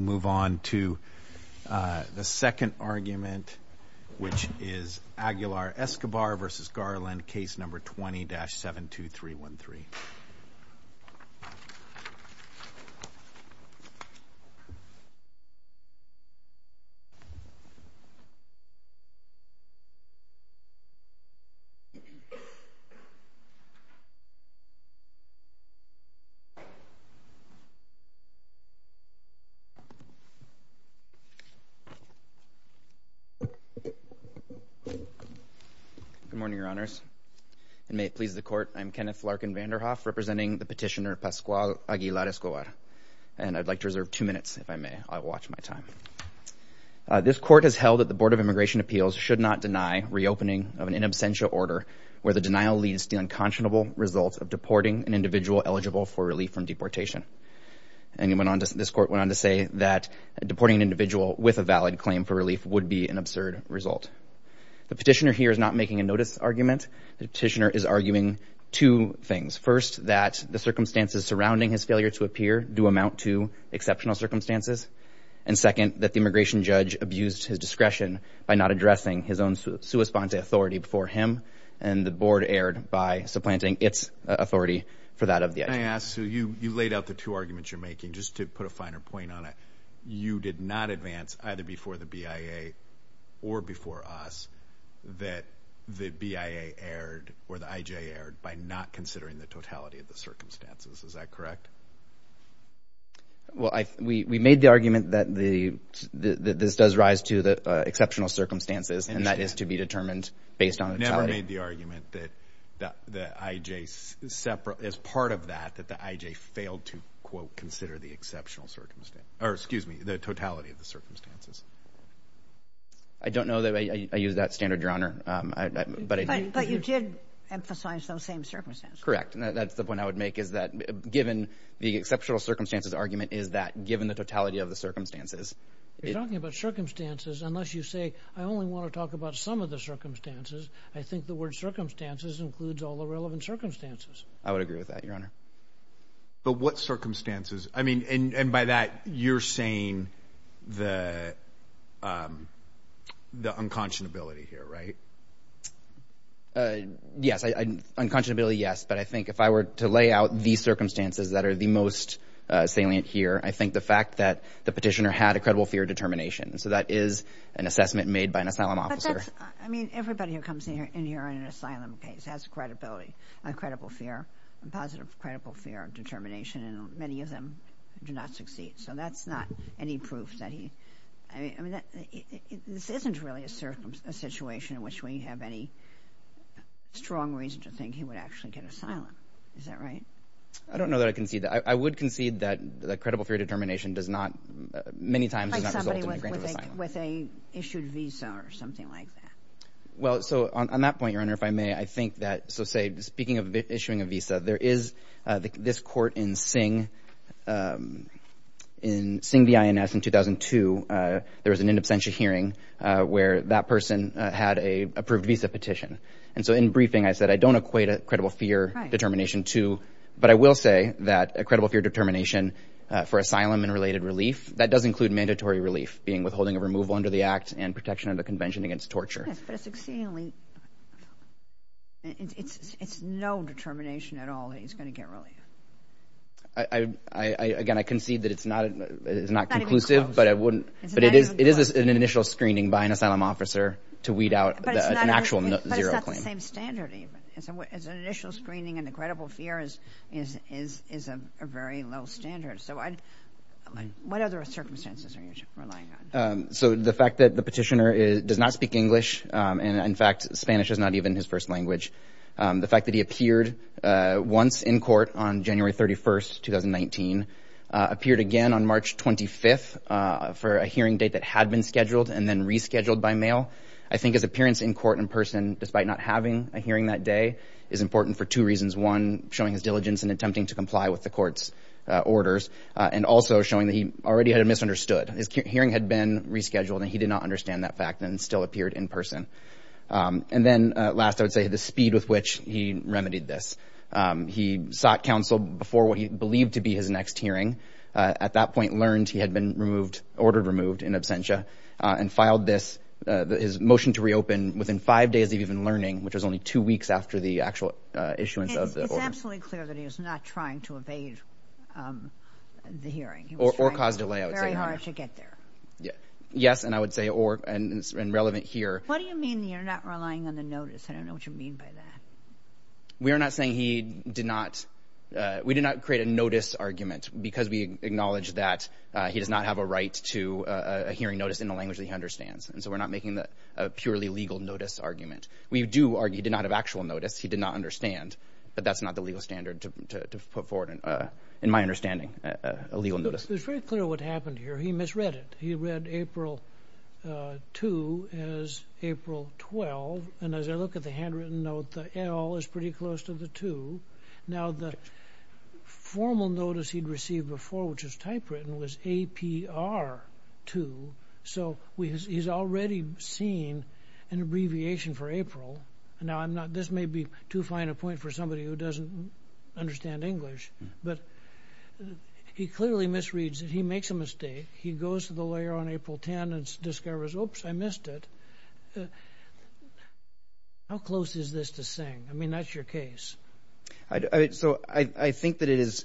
Move on to the second argument, which is Aguilar-Escobar v. Garland, case number 20-72313. Good morning, Your Honors, and may it please the Court, I'm Kenneth Larkin Vanderhoff, representing the petitioner Pascual Aguilar-Escobar, and I'd like to reserve two minutes, if I may, I'll watch my time. This Court has held that the Board of Immigration Appeals should not deny reopening of an in absentia order where the denial leads to the unconscionable result of deporting an individual eligible for relief from deportation. And this Court went on to say that deporting an individual with a valid claim for relief would be an absurd result. The petitioner here is not making a notice argument. The petitioner is arguing two things. First, that the circumstances surrounding his failure to appear do amount to exceptional circumstances, and second, that the immigration judge abused his discretion by not addressing his own sui sponte authority before him, and the Board erred by supplanting its authority for that of the agenda. Can I ask, so you laid out the two arguments you're making, just to put a finer point on it. You did not advance either before the BIA or before us that the BIA erred or the IJ erred by not considering the totality of the circumstances, is that correct? Well, we made the argument that this does rise to the exceptional circumstances, and that is to be determined based on the totality. You made the argument that the IJ, as part of that, that the IJ failed to, quote, consider the exceptional circumstances, or excuse me, the totality of the circumstances. I don't know that I used that standard, Your Honor. But you did emphasize those same circumstances. Correct. That's the point I would make, is that given the exceptional circumstances argument is that, given the totality of the circumstances. You're talking about circumstances, unless you say, I only want to talk about some of the circumstances. I think the word circumstances includes all the relevant circumstances. I would agree with that, Your Honor. But what circumstances? I mean, and by that, you're saying the unconscionability here, right? Yes, unconscionability, yes. But I think if I were to lay out the circumstances that are the most salient here, I think the fact that the petitioner had a credible fear determination. So that is an assessment made by an asylum officer. I mean, everybody who comes in here on an asylum case has a credibility, a credible fear, a positive credible fear of determination, and many of them do not succeed. So that's not any proof that he, I mean, this isn't really a situation in which we have any strong reason to think he would actually get asylum, is that right? I don't know that I concede that. I would concede that the credible fear determination does not, many times does not result in a grant of asylum. With an issued visa or something like that? Well, so on that point, Your Honor, if I may, I think that, so say, speaking of issuing a visa, there is this court in Sing, in Sing v. INS in 2002, there was an in absentia hearing where that person had a approved visa petition. And so in briefing, I said, I don't equate a credible fear determination to, but I will say that a credible fear determination for asylum and related relief, that does include unmandatory relief, being withholding a removal under the act and protection of the convention against torture. But it's exceedingly, it's no determination at all that he's going to get relief. I, again, I concede that it's not, it's not conclusive, but I wouldn't, but it is, it is an initial screening by an asylum officer to weed out an actual zero claim. But it's not the same standard even. It's an initial screening and the credible fear is, is, is a very low standard. So I, what other circumstances are you relying on? So the fact that the petitioner is, does not speak English, and in fact, Spanish is not even his first language. The fact that he appeared once in court on January 31st, 2019, appeared again on March 25th for a hearing date that had been scheduled and then rescheduled by mail. I think his appearance in court in person, despite not having a hearing that day is important for two reasons. One, showing his diligence and attempting to comply with the court's orders, and also showing that he already had misunderstood. His hearing had been rescheduled and he did not understand that fact and still appeared in person. And then last, I would say the speed with which he remedied this. He sought counsel before what he believed to be his next hearing. At that point, learned he had been removed, ordered removed in absentia, and filed this, his motion to reopen within five days of even learning, which was only two weeks after the actual issuance of the order. It's absolutely clear that he was not trying to evade the hearing. Or cause delay, I would say. Very hard to get there. Yes. And I would say, or, and it's been relevant here. What do you mean you're not relying on the notice? I don't know what you mean by that. We are not saying he did not, we did not create a notice argument because we acknowledge that he does not have a right to a hearing notice in the language that he understands. And so we're not making a purely legal notice argument. We do argue he did not have actual notice. He did not understand. But that's not the legal standard to put forward, in my understanding, a legal notice. It's very clear what happened here. He misread it. He read April 2 as April 12. And as I look at the handwritten note, the L is pretty close to the 2. Now the formal notice he'd received before, which was typewritten, was APR 2. So he's already seen an abbreviation for April. Now, I'm not, this may be too fine a point for somebody who doesn't understand English, but he clearly misreads it. He makes a mistake. He goes to the lawyer on April 10 and discovers, oops, I missed it. How close is this to Singh? I mean, that's your case. So I think that it is,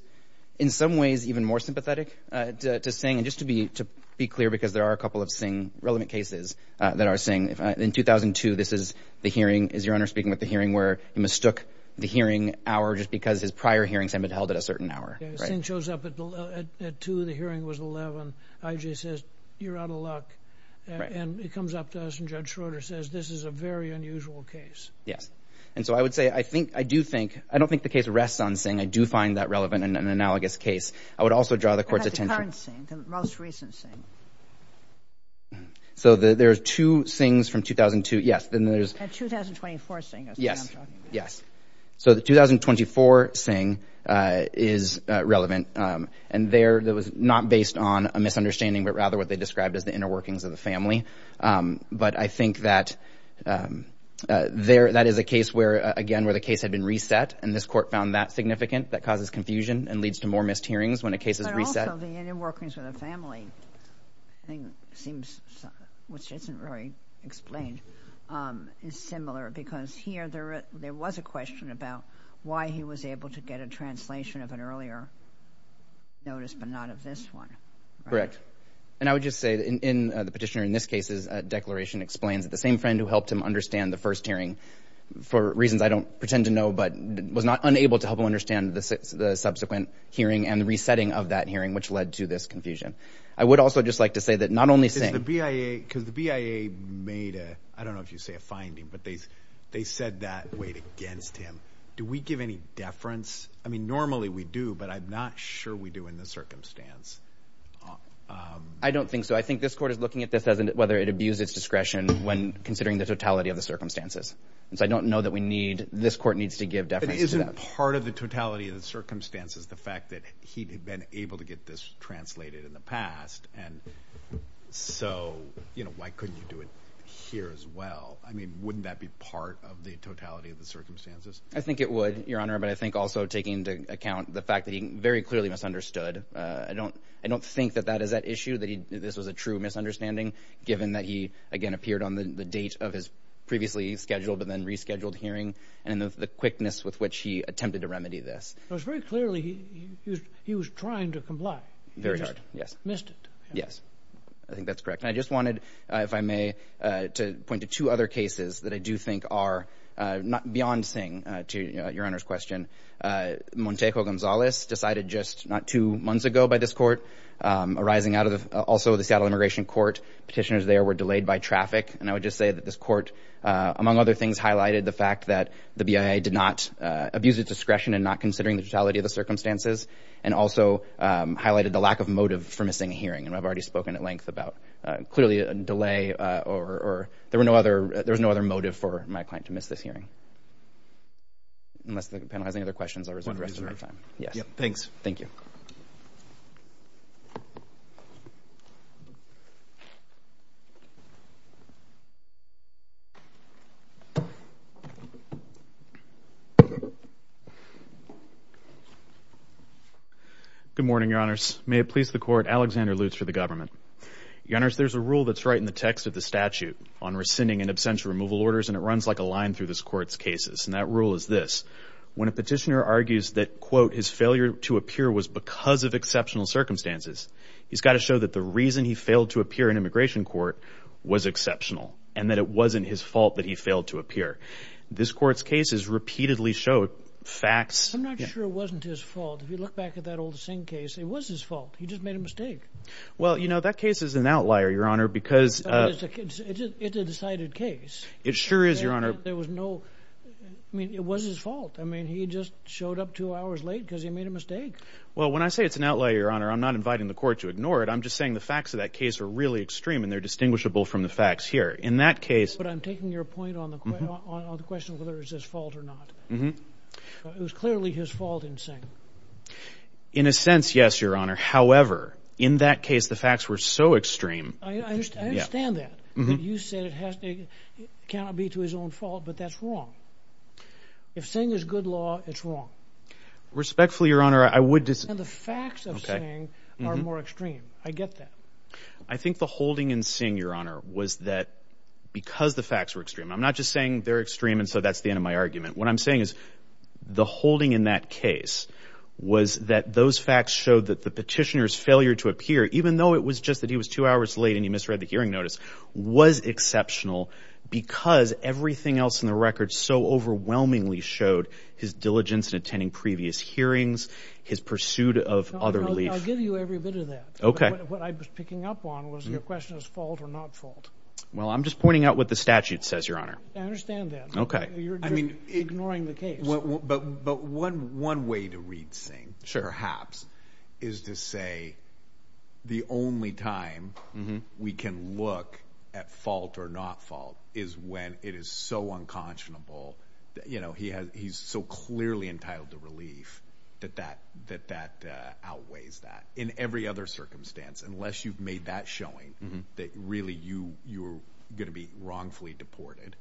in some ways, even more sympathetic to Singh. And just to be, to be clear, because there are a couple of Singh, relevant cases that are Singh. In 2002, this is the hearing, is Your Honor speaking, with the hearing where he mistook the hearing hour just because his prior hearing had been held at a certain hour. Singh shows up at 2, the hearing was 11, I.J. says, you're out of luck. And he comes up to us, and Judge Schroeder says, this is a very unusual case. Yes. And so I would say, I think, I do think, I don't think the case rests on Singh. I do find that relevant in an analogous case. I would also draw the Court's attention. What about the current Singh, the most recent Singh? So, there are two Singhs from 2002, yes, then there's... A 2024 Singh, is what I'm talking about. Yes, yes. So, the 2024 Singh is relevant. And there, that was not based on a misunderstanding, but rather what they described as the inner workings of the family. But I think that there, that is a case where, again, where the case had been reset, and this Court found that significant, that causes confusion and leads to more missed hearings when a case is reset. But also, the inner workings of the family, I think, seems, which isn't really explained, is similar, because here, there was a question about why he was able to get a translation of an earlier notice, but not of this one, right? And I would just say, in the petitioner in this case's declaration explains that the same friend who helped him understand the first hearing, for reasons I don't pretend to know, but was not unable to help him understand the subsequent hearing and the resetting of that hearing, which led to this confusion. I would also just like to say that, not only Singh- Is the BIA, because the BIA made a, I don't know if you say a finding, but they said that weighed against him. Do we give any deference? I mean, normally we do, but I'm not sure we do in this circumstance. I don't think so. I think this Court is looking at this as whether it abuses discretion when considering the totality of the circumstances. And so, I don't know that we need, this Court needs to give deference to that. I mean, wouldn't part of the totality of the circumstances, the fact that he had been able to get this translated in the past, and so, you know, why couldn't you do it here as well? I mean, wouldn't that be part of the totality of the circumstances? I think it would, Your Honor, but I think also taking into account the fact that he very clearly misunderstood, I don't think that that is at issue, that this was a true misunderstanding given that he, again, appeared on the date of his previously scheduled and then rescheduled hearing, and the quickness with which he attempted to remedy this. It was very clearly he was trying to comply. Very hard, yes. He just missed it. Yes. I think that's correct. And I just wanted, if I may, to point to two other cases that I do think are not beyond saying to Your Honor's question, Montego-Gonzalez decided just not two months ago by this Court, arising out of also the Seattle Immigration Court, petitioners there were delayed by traffic, and I would just say that this Court, among other things, highlighted the fact that the BIA did not abuse its discretion in not considering the totality of the circumstances, and also highlighted the lack of motive for missing a hearing, and I've already spoken at length about clearly a delay, or there were no other, there was no other motive for my client to miss this hearing. Unless the panel has any other questions, I'll reserve the rest of my time. Yes. Thanks. Thank you. Good morning, Your Honors. May it please the Court, Alexander Lutz for the Government. Your Honors, there's a rule that's right in the text of the statute on rescinding and absentia removal orders, and it runs like a line through this Court's cases, and that rule is this. When a petitioner argues that, quote, his failure to appear was because of exceptional circumstances, he's got to show that the reason he failed to appear in Immigration Court was exceptional, and that it wasn't his fault that he failed to appear. This Court's cases repeatedly show facts... I'm not sure it wasn't his fault. If you look back at that old Singh case, it was his fault. He just made a mistake. Well, you know, that case is an outlier, Your Honor, because... It's a decided case. It sure is, Your Honor. There was no... I mean, it was his fault. I mean, he just showed up two hours late because he made a mistake. Well, when I say it's an outlier, Your Honor, I'm not inviting the Court to ignore it. I'm just saying the facts of that case are really extreme, and they're distinguishable from the facts here. In that case... But I'm taking your point on the question of whether it was his fault or not. It was clearly his fault in Singh. In a sense, yes, Your Honor. However, in that case, the facts were so extreme... I understand that. You said it has to... It cannot be to his own fault, but that's wrong. If Singh is good law, it's wrong. Respectfully, Your Honor, I would... And the facts of Singh are more extreme. I get that. I think the holding in Singh, Your Honor, was that because the facts were extreme. I'm not just saying they're extreme, and so that's the end of my argument. What I'm saying is the holding in that case was that those facts showed that the petitioner's failure to appear, even though it was just that he was two hours late and he misread the hearing notice, was exceptional because everything else in the record so overwhelmingly showed his diligence in attending previous hearings, his pursuit of other relief. I'll give you every bit of that. What I was picking up on was your question is fault or not fault. Well, I'm just pointing out what the statute says, Your Honor. I understand that. Okay. You're just ignoring the case. But one way to read Singh, perhaps, is to say the only time we can look at fault or not fault is when it is so unconscionable. He's so clearly entitled to relief that that outweighs that. In every other circumstance, unless you've made that showing that really you were going to be wrongfully deported,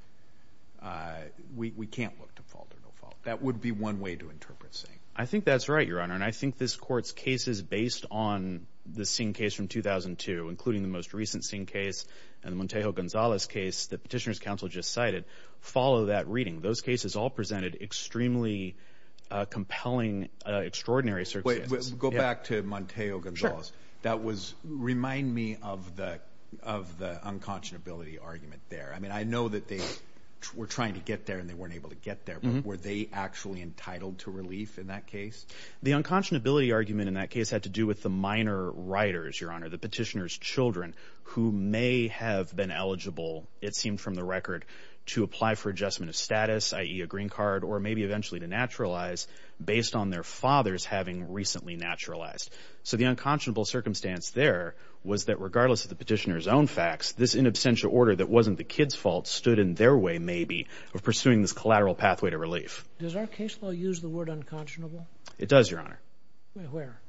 we can't look to fault or not fault. That would be one way to interpret Singh. I think that's right, Your Honor, and I think this Court's cases based on the Singh case from 2002, including the most recent Singh case and the Montejo Gonzalez case that Petitioner's Those cases all presented extremely compelling, extraordinary circumstances. Go back to Montejo Gonzalez. That was, remind me of the unconscionability argument there. I mean, I know that they were trying to get there and they weren't able to get there. Were they actually entitled to relief in that case? The unconscionability argument in that case had to do with the minor writers, Your Honor, the Petitioner's children who may have been eligible, it seemed from the record, to apply for adjustment of status, i.e. a green card, or maybe eventually to naturalize based on their fathers having recently naturalized. So the unconscionable circumstance there was that regardless of the Petitioner's own facts, this in absentia order that wasn't the kid's fault stood in their way, maybe, of pursuing this collateral pathway to relief. Does our case law use the word unconscionable? It does, Your Honor. Where?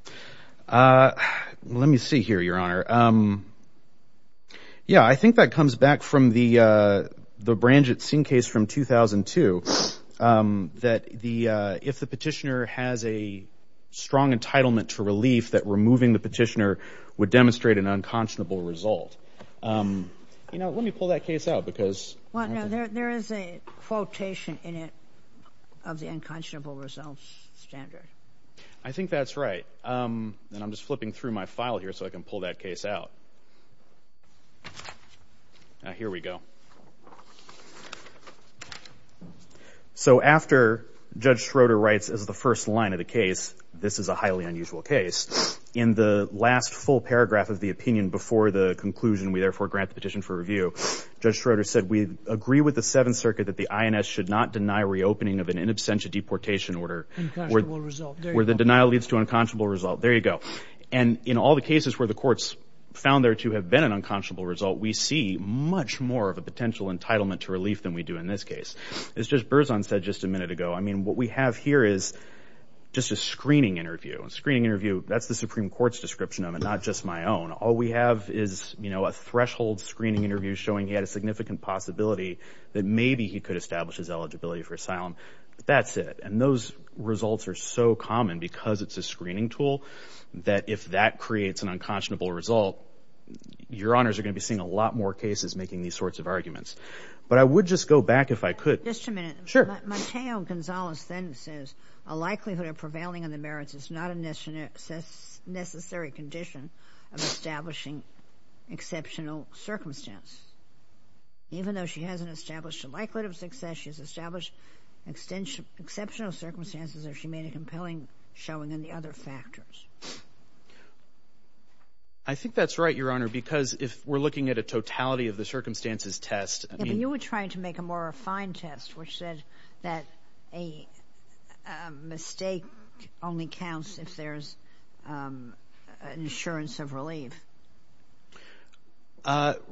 Let me see here, Your Honor. Yeah, I think that comes back from the Brangett-Singh case from 2002, that if the Petitioner has a strong entitlement to relief, that removing the Petitioner would demonstrate an unconscionable result. You know, let me pull that case out, because... Well, no, there is a quotation in it of the unconscionable results standard. I think that's right. All right. And I'm just flipping through my file here so I can pull that case out. Here we go. So after Judge Schroeder writes as the first line of the case, this is a highly unusual case, in the last full paragraph of the opinion before the conclusion, we therefore grant the petition for review, Judge Schroeder said, we agree with the Seventh Circuit that the INS should not deny reopening of an in absentia deportation order where the denial leads to an unconscionable result. There you go. And in all the cases where the courts found there to have been an unconscionable result, we see much more of a potential entitlement to relief than we do in this case. As Judge Berzon said just a minute ago, I mean, what we have here is just a screening interview. A screening interview, that's the Supreme Court's description of it, not just my own. All we have is, you know, a threshold screening interview showing he had a significant possibility that maybe he could establish his eligibility for asylum. That's it. And those results are so common because it's a screening tool, that if that creates an unconscionable result, your honors are going to be seeing a lot more cases making these sorts of arguments. But I would just go back if I could. Just a minute. Sure. Mateo Gonzalez then says, a likelihood of prevailing on the merits is not a necessary condition of establishing exceptional circumstance. Even though she hasn't established a likelihood of success, she's established exceptional circumstances or she made a compelling showing in the other factors. I think that's right, your honor, because if we're looking at a totality of the circumstances test. If you were trying to make a more refined test, which said that a mistake only counts if there's an assurance of relief.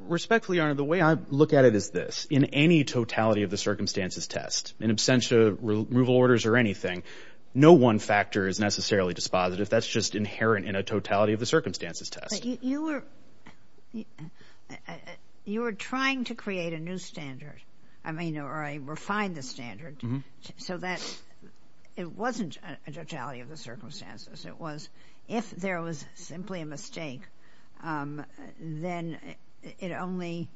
Respectfully, your honor, the way I look at it is this. In any totality of the circumstances test, in absentia, removal orders or anything, no one factor is necessarily dispositive. That's just inherent in a totality of the circumstances test. You were trying to create a new standard, I mean, or refine the standard so that it wasn't a totality of the circumstances. It was, if there was simply a mistake, then it only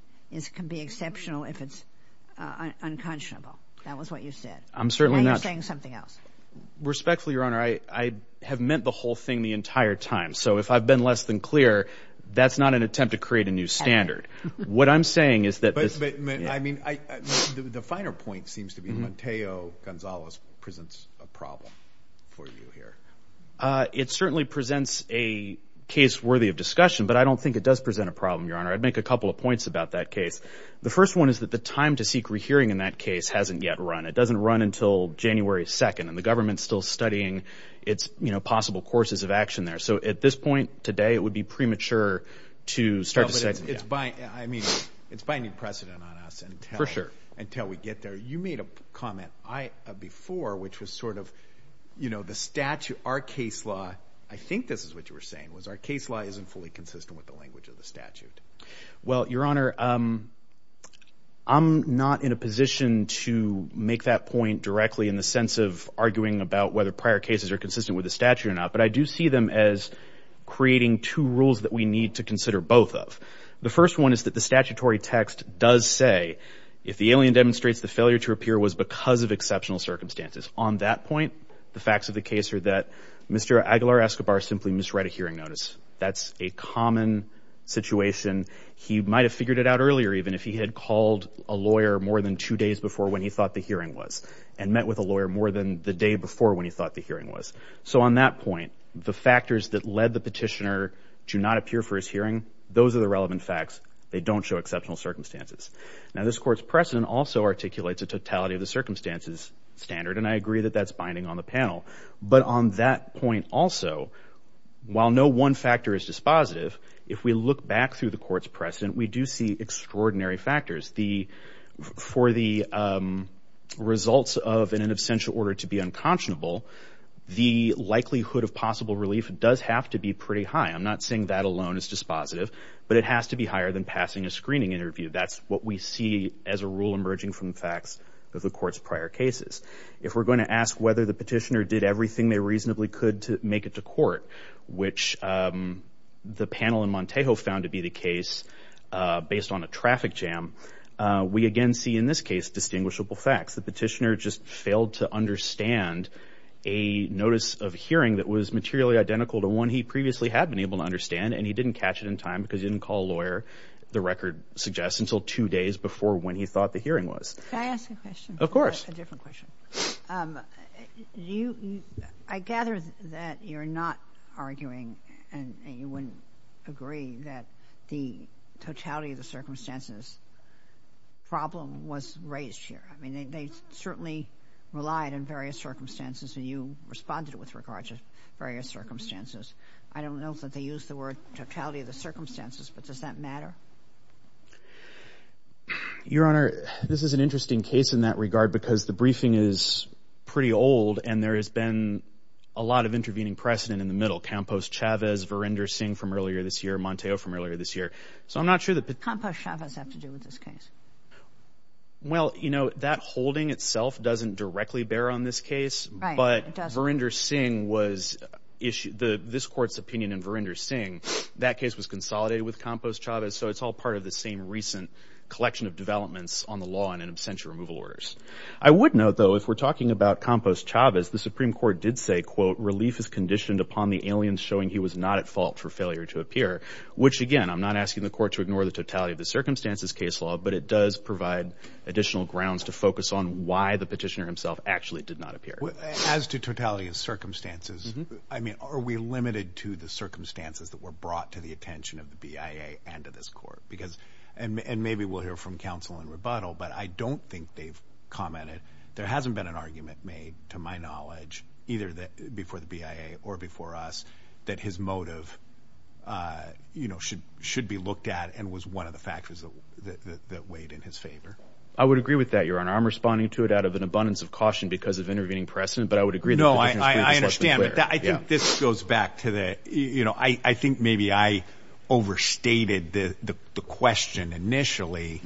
can be exceptional if it's unconscionable. That was what you said. I'm certainly not. Now you're saying something else. Respectfully, your honor, I have meant the whole thing the entire time, so if I've been less than clear, that's not an attempt to create a new standard. What I'm saying is that this. I mean, the finer point seems to be that Mateo Gonzalez presents a problem for you here. It certainly presents a case worthy of discussion, but I don't think it does present a problem, your honor. I'd make a couple of points about that case. The first one is that the time to seek rehearing in that case hasn't yet run. It doesn't run until January 2nd, and the government's still studying its possible courses of action there. So at this point today, it would be premature to start to say. I mean, it's binding precedent on us until we get there. You made a comment before, which was sort of, you know, the statute, our case law, I think this is what you were saying, was our case law isn't fully consistent with the language of the statute. Well, your honor, I'm not in a position to make that point directly in the sense of arguing about whether prior cases are consistent with the statute or not, but I do see them as creating two rules that we need to consider both of. The first one is that the statutory text does say if the alien demonstrates the failure to appear was because of exceptional circumstances. On that point, the facts of the case are that Mr. Aguilar Escobar simply misread a hearing notice. That's a common situation. He might have figured it out earlier even if he had called a lawyer more than two days before when he thought the hearing was and met with a lawyer more than the day before when he thought the hearing was. So on that point, the factors that led the petitioner to not appear for his hearing, those are the relevant facts. They don't show exceptional circumstances. Now, this court's precedent also articulates a totality of the circumstances standard, and I agree that that's binding on the panel, but on that point also, while no one factor is dispositive, if we look back through the court's precedent, we do see extraordinary factors. For the results of an inobstantial order to be unconscionable, the likelihood of possible relief does have to be pretty high. I'm not saying that alone is dispositive, but it has to be higher than passing a screening interview. That's what we see as a rule emerging from the facts of the court's prior cases. If we're going to ask whether the petitioner did everything they reasonably could to make it to court, which the panel in Montejo found to be the case based on a traffic jam, we again see in this case distinguishable facts. The petitioner just failed to understand a notice of hearing that was materially identical to one he previously had been able to understand, and he didn't catch it in time because he didn't call a lawyer, the record suggests, until two days before when he thought the hearing was. Can I ask a question? Of course. A different question. I gather that you're not arguing and you wouldn't agree that the totality of the circumstances problem was raised here. I mean, they certainly relied on various circumstances, and you responded with regard to various circumstances. I don't know that they used the word totality of the circumstances, but does that matter? Your Honor, this is an interesting case in that regard because the briefing is pretty old and there has been a lot of intervening precedent in the middle, Campos-Chavez, Virender Singh from earlier this year, Montejo from earlier this year. So I'm not sure that... Campos-Chavez has to do with this case. Well, you know, that holding itself doesn't directly bear on this case, but Virender Singh was issued, this court's opinion in Virender Singh, that case was consolidated with Campos-Chavez, so it's all part of the same recent collection of developments on the law and in absentia removal orders. I would note, though, if we're talking about Campos-Chavez, the Supreme Court did say, quote, relief is conditioned upon the alien showing he was not at fault for failure to appear, which again, I'm not asking the court to ignore the totality of the circumstances case law, but it does provide additional grounds to focus on why the petitioner himself actually did not appear. As to totality of circumstances, I mean, are we limited to the circumstances that were brought to the attention of the BIA and to this court? And maybe we'll hear from counsel in rebuttal, but I don't think they've commented. There hasn't been an argument made to my knowledge, either before the BIA or before us, that his motive should be looked at and was one of the factors that weighed in his favor. I would agree with that, Your Honor. I'm responding to it out of an abundance of caution because of intervening precedent, but I would agree that the petitioner's brief was less than clear. No, I understand. I think this goes back to the, you know, I think maybe I overstated the question initially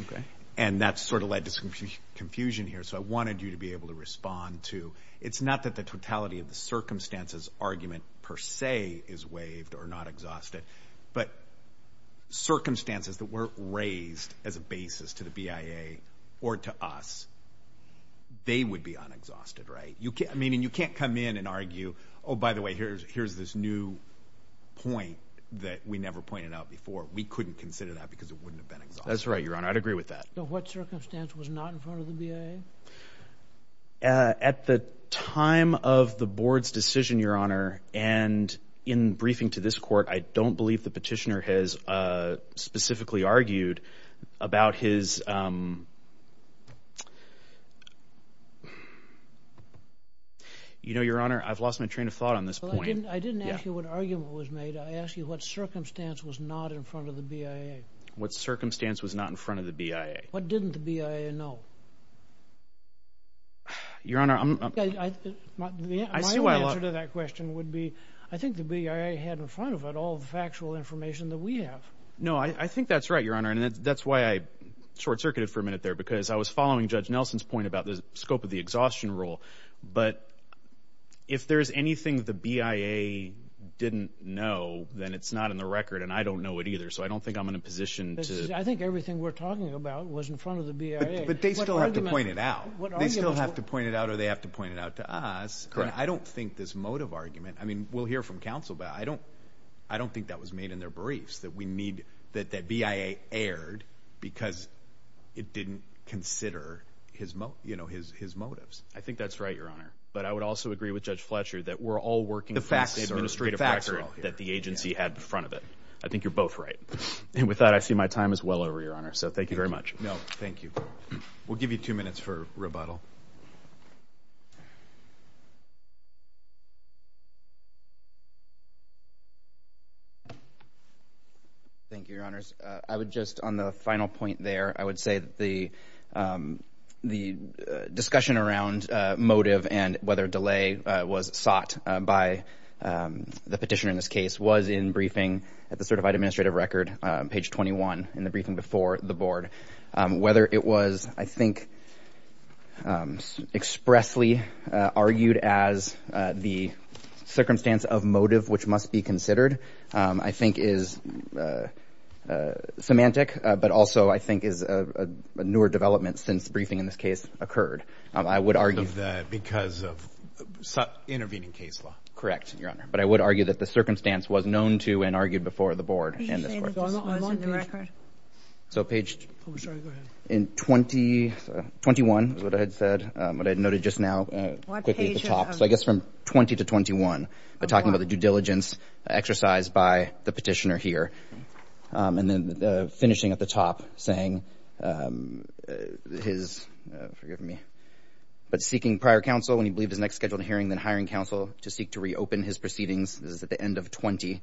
and that sort of led to some confusion here. So I wanted you to be able to respond to, it's not that the totality of the circumstances argument per se is waived or not exhausted, but circumstances that were raised as a basis to the BIA or to us, they would be unexhausted, right? Meaning you can't come in and argue, oh, by the way, here's this new point that we never pointed out before. We couldn't consider that because it wouldn't have been exhausted. That's right, Your Honor. I'd agree with that. So what circumstance was not in front of the BIA? At the time of the board's decision, Your Honor, and in briefing to this court, I don't believe the petitioner has specifically argued about his... You know, Your Honor, I've lost my train of thought on this point. I didn't ask you what argument was made. I asked you what circumstance was not in front of the BIA. What circumstance was not in front of the BIA? What didn't the BIA know? Your Honor, I'm... My answer to that question would be, I think the BIA had in front of it all the facts we have. No, I think that's right, Your Honor. And that's why I short-circuited for a minute there, because I was following Judge Nelson's point about the scope of the exhaustion rule. But if there's anything the BIA didn't know, then it's not in the record, and I don't know it either. So I don't think I'm in a position to... I think everything we're talking about was in front of the BIA. But they still have to point it out. They still have to point it out or they have to point it out to us. I don't think this motive argument, I mean, we'll hear from counsel, but I don't think that was made in their briefs. That we need... That the BIA erred because it didn't consider his motives. I think that's right, Your Honor. But I would also agree with Judge Fletcher that we're all working for the administrative factor that the agency had in front of it. I think you're both right. And with that, I see my time is well over, Your Honor. So thank you very much. No, thank you. We'll give you two minutes for rebuttal. Thank you, Your Honors. I would just, on the final point there, I would say that the discussion around motive and whether delay was sought by the petitioner in this case was in briefing at the certified administrative record, page 21, in the briefing before the board. Whether it was, I think, expressly argued as the circumstance of motive, which must be considered, I think is semantic, but also, I think, is a newer development since briefing in this case occurred. I would argue... Because of the... Because of intervening case law. Correct, Your Honor. But I would argue that the circumstance was known to and argued before the board in this Can you say that this was in the record? So, page... Oh, I'm sorry. Go ahead. In 20... 21 is what I had said, what I had noted just now, quickly at the top. What page of... So, I guess from 20 to 21. But talking about the due diligence exercised by the petitioner here, and then finishing at the top, saying his, forgive me, but seeking prior counsel when he believed his next scheduled hearing, then hiring counsel to seek to reopen his proceedings, this is at the end of 20,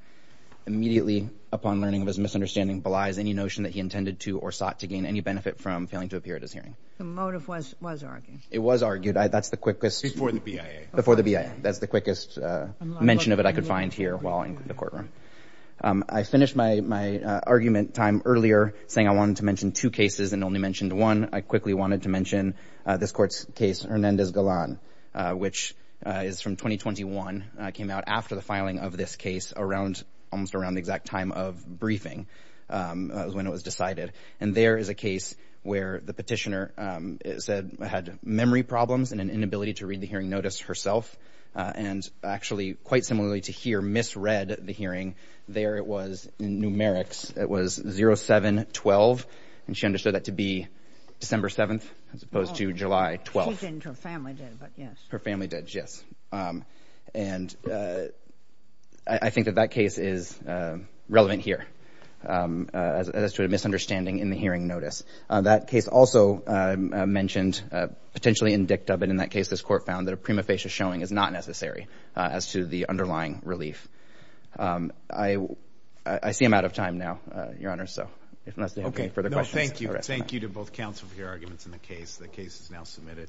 immediately upon learning of his misunderstanding, belies any notion that he intended to or sought to gain any benefit from failing to appear at his hearing. The motive was argued. It was argued. That's the quickest... Before the BIA. Before the BIA. That's the quickest mention of it I could find here while in the courtroom. I finished my argument time earlier, saying I wanted to mention two cases and only mentioned one. I quickly wanted to mention this court's case, Hernandez-Gallan, which is from 2021, came out after the filing of this case, around, almost around the exact time of briefing, when it was decided. And there is a case where the petitioner said had memory problems and an inability to read the hearing notice herself, and actually, quite similarly to here, misread the hearing. There it was, in numerics, it was 07-12, and she understood that to be December 7, as opposed to July 12. She didn't. Her family did, but yes. Her family did, yes. And I think that that case is relevant here, as to a misunderstanding in the hearing notice. That case also mentioned, potentially in dicta, but in that case, this court found that a prima facie showing is not necessary, as to the underlying relief. I see I'm out of time now, Your Honor, so, if you have any further questions, I'll arrest Thank you to both counsel for your arguments in the case. The case is now submitted. Thank you.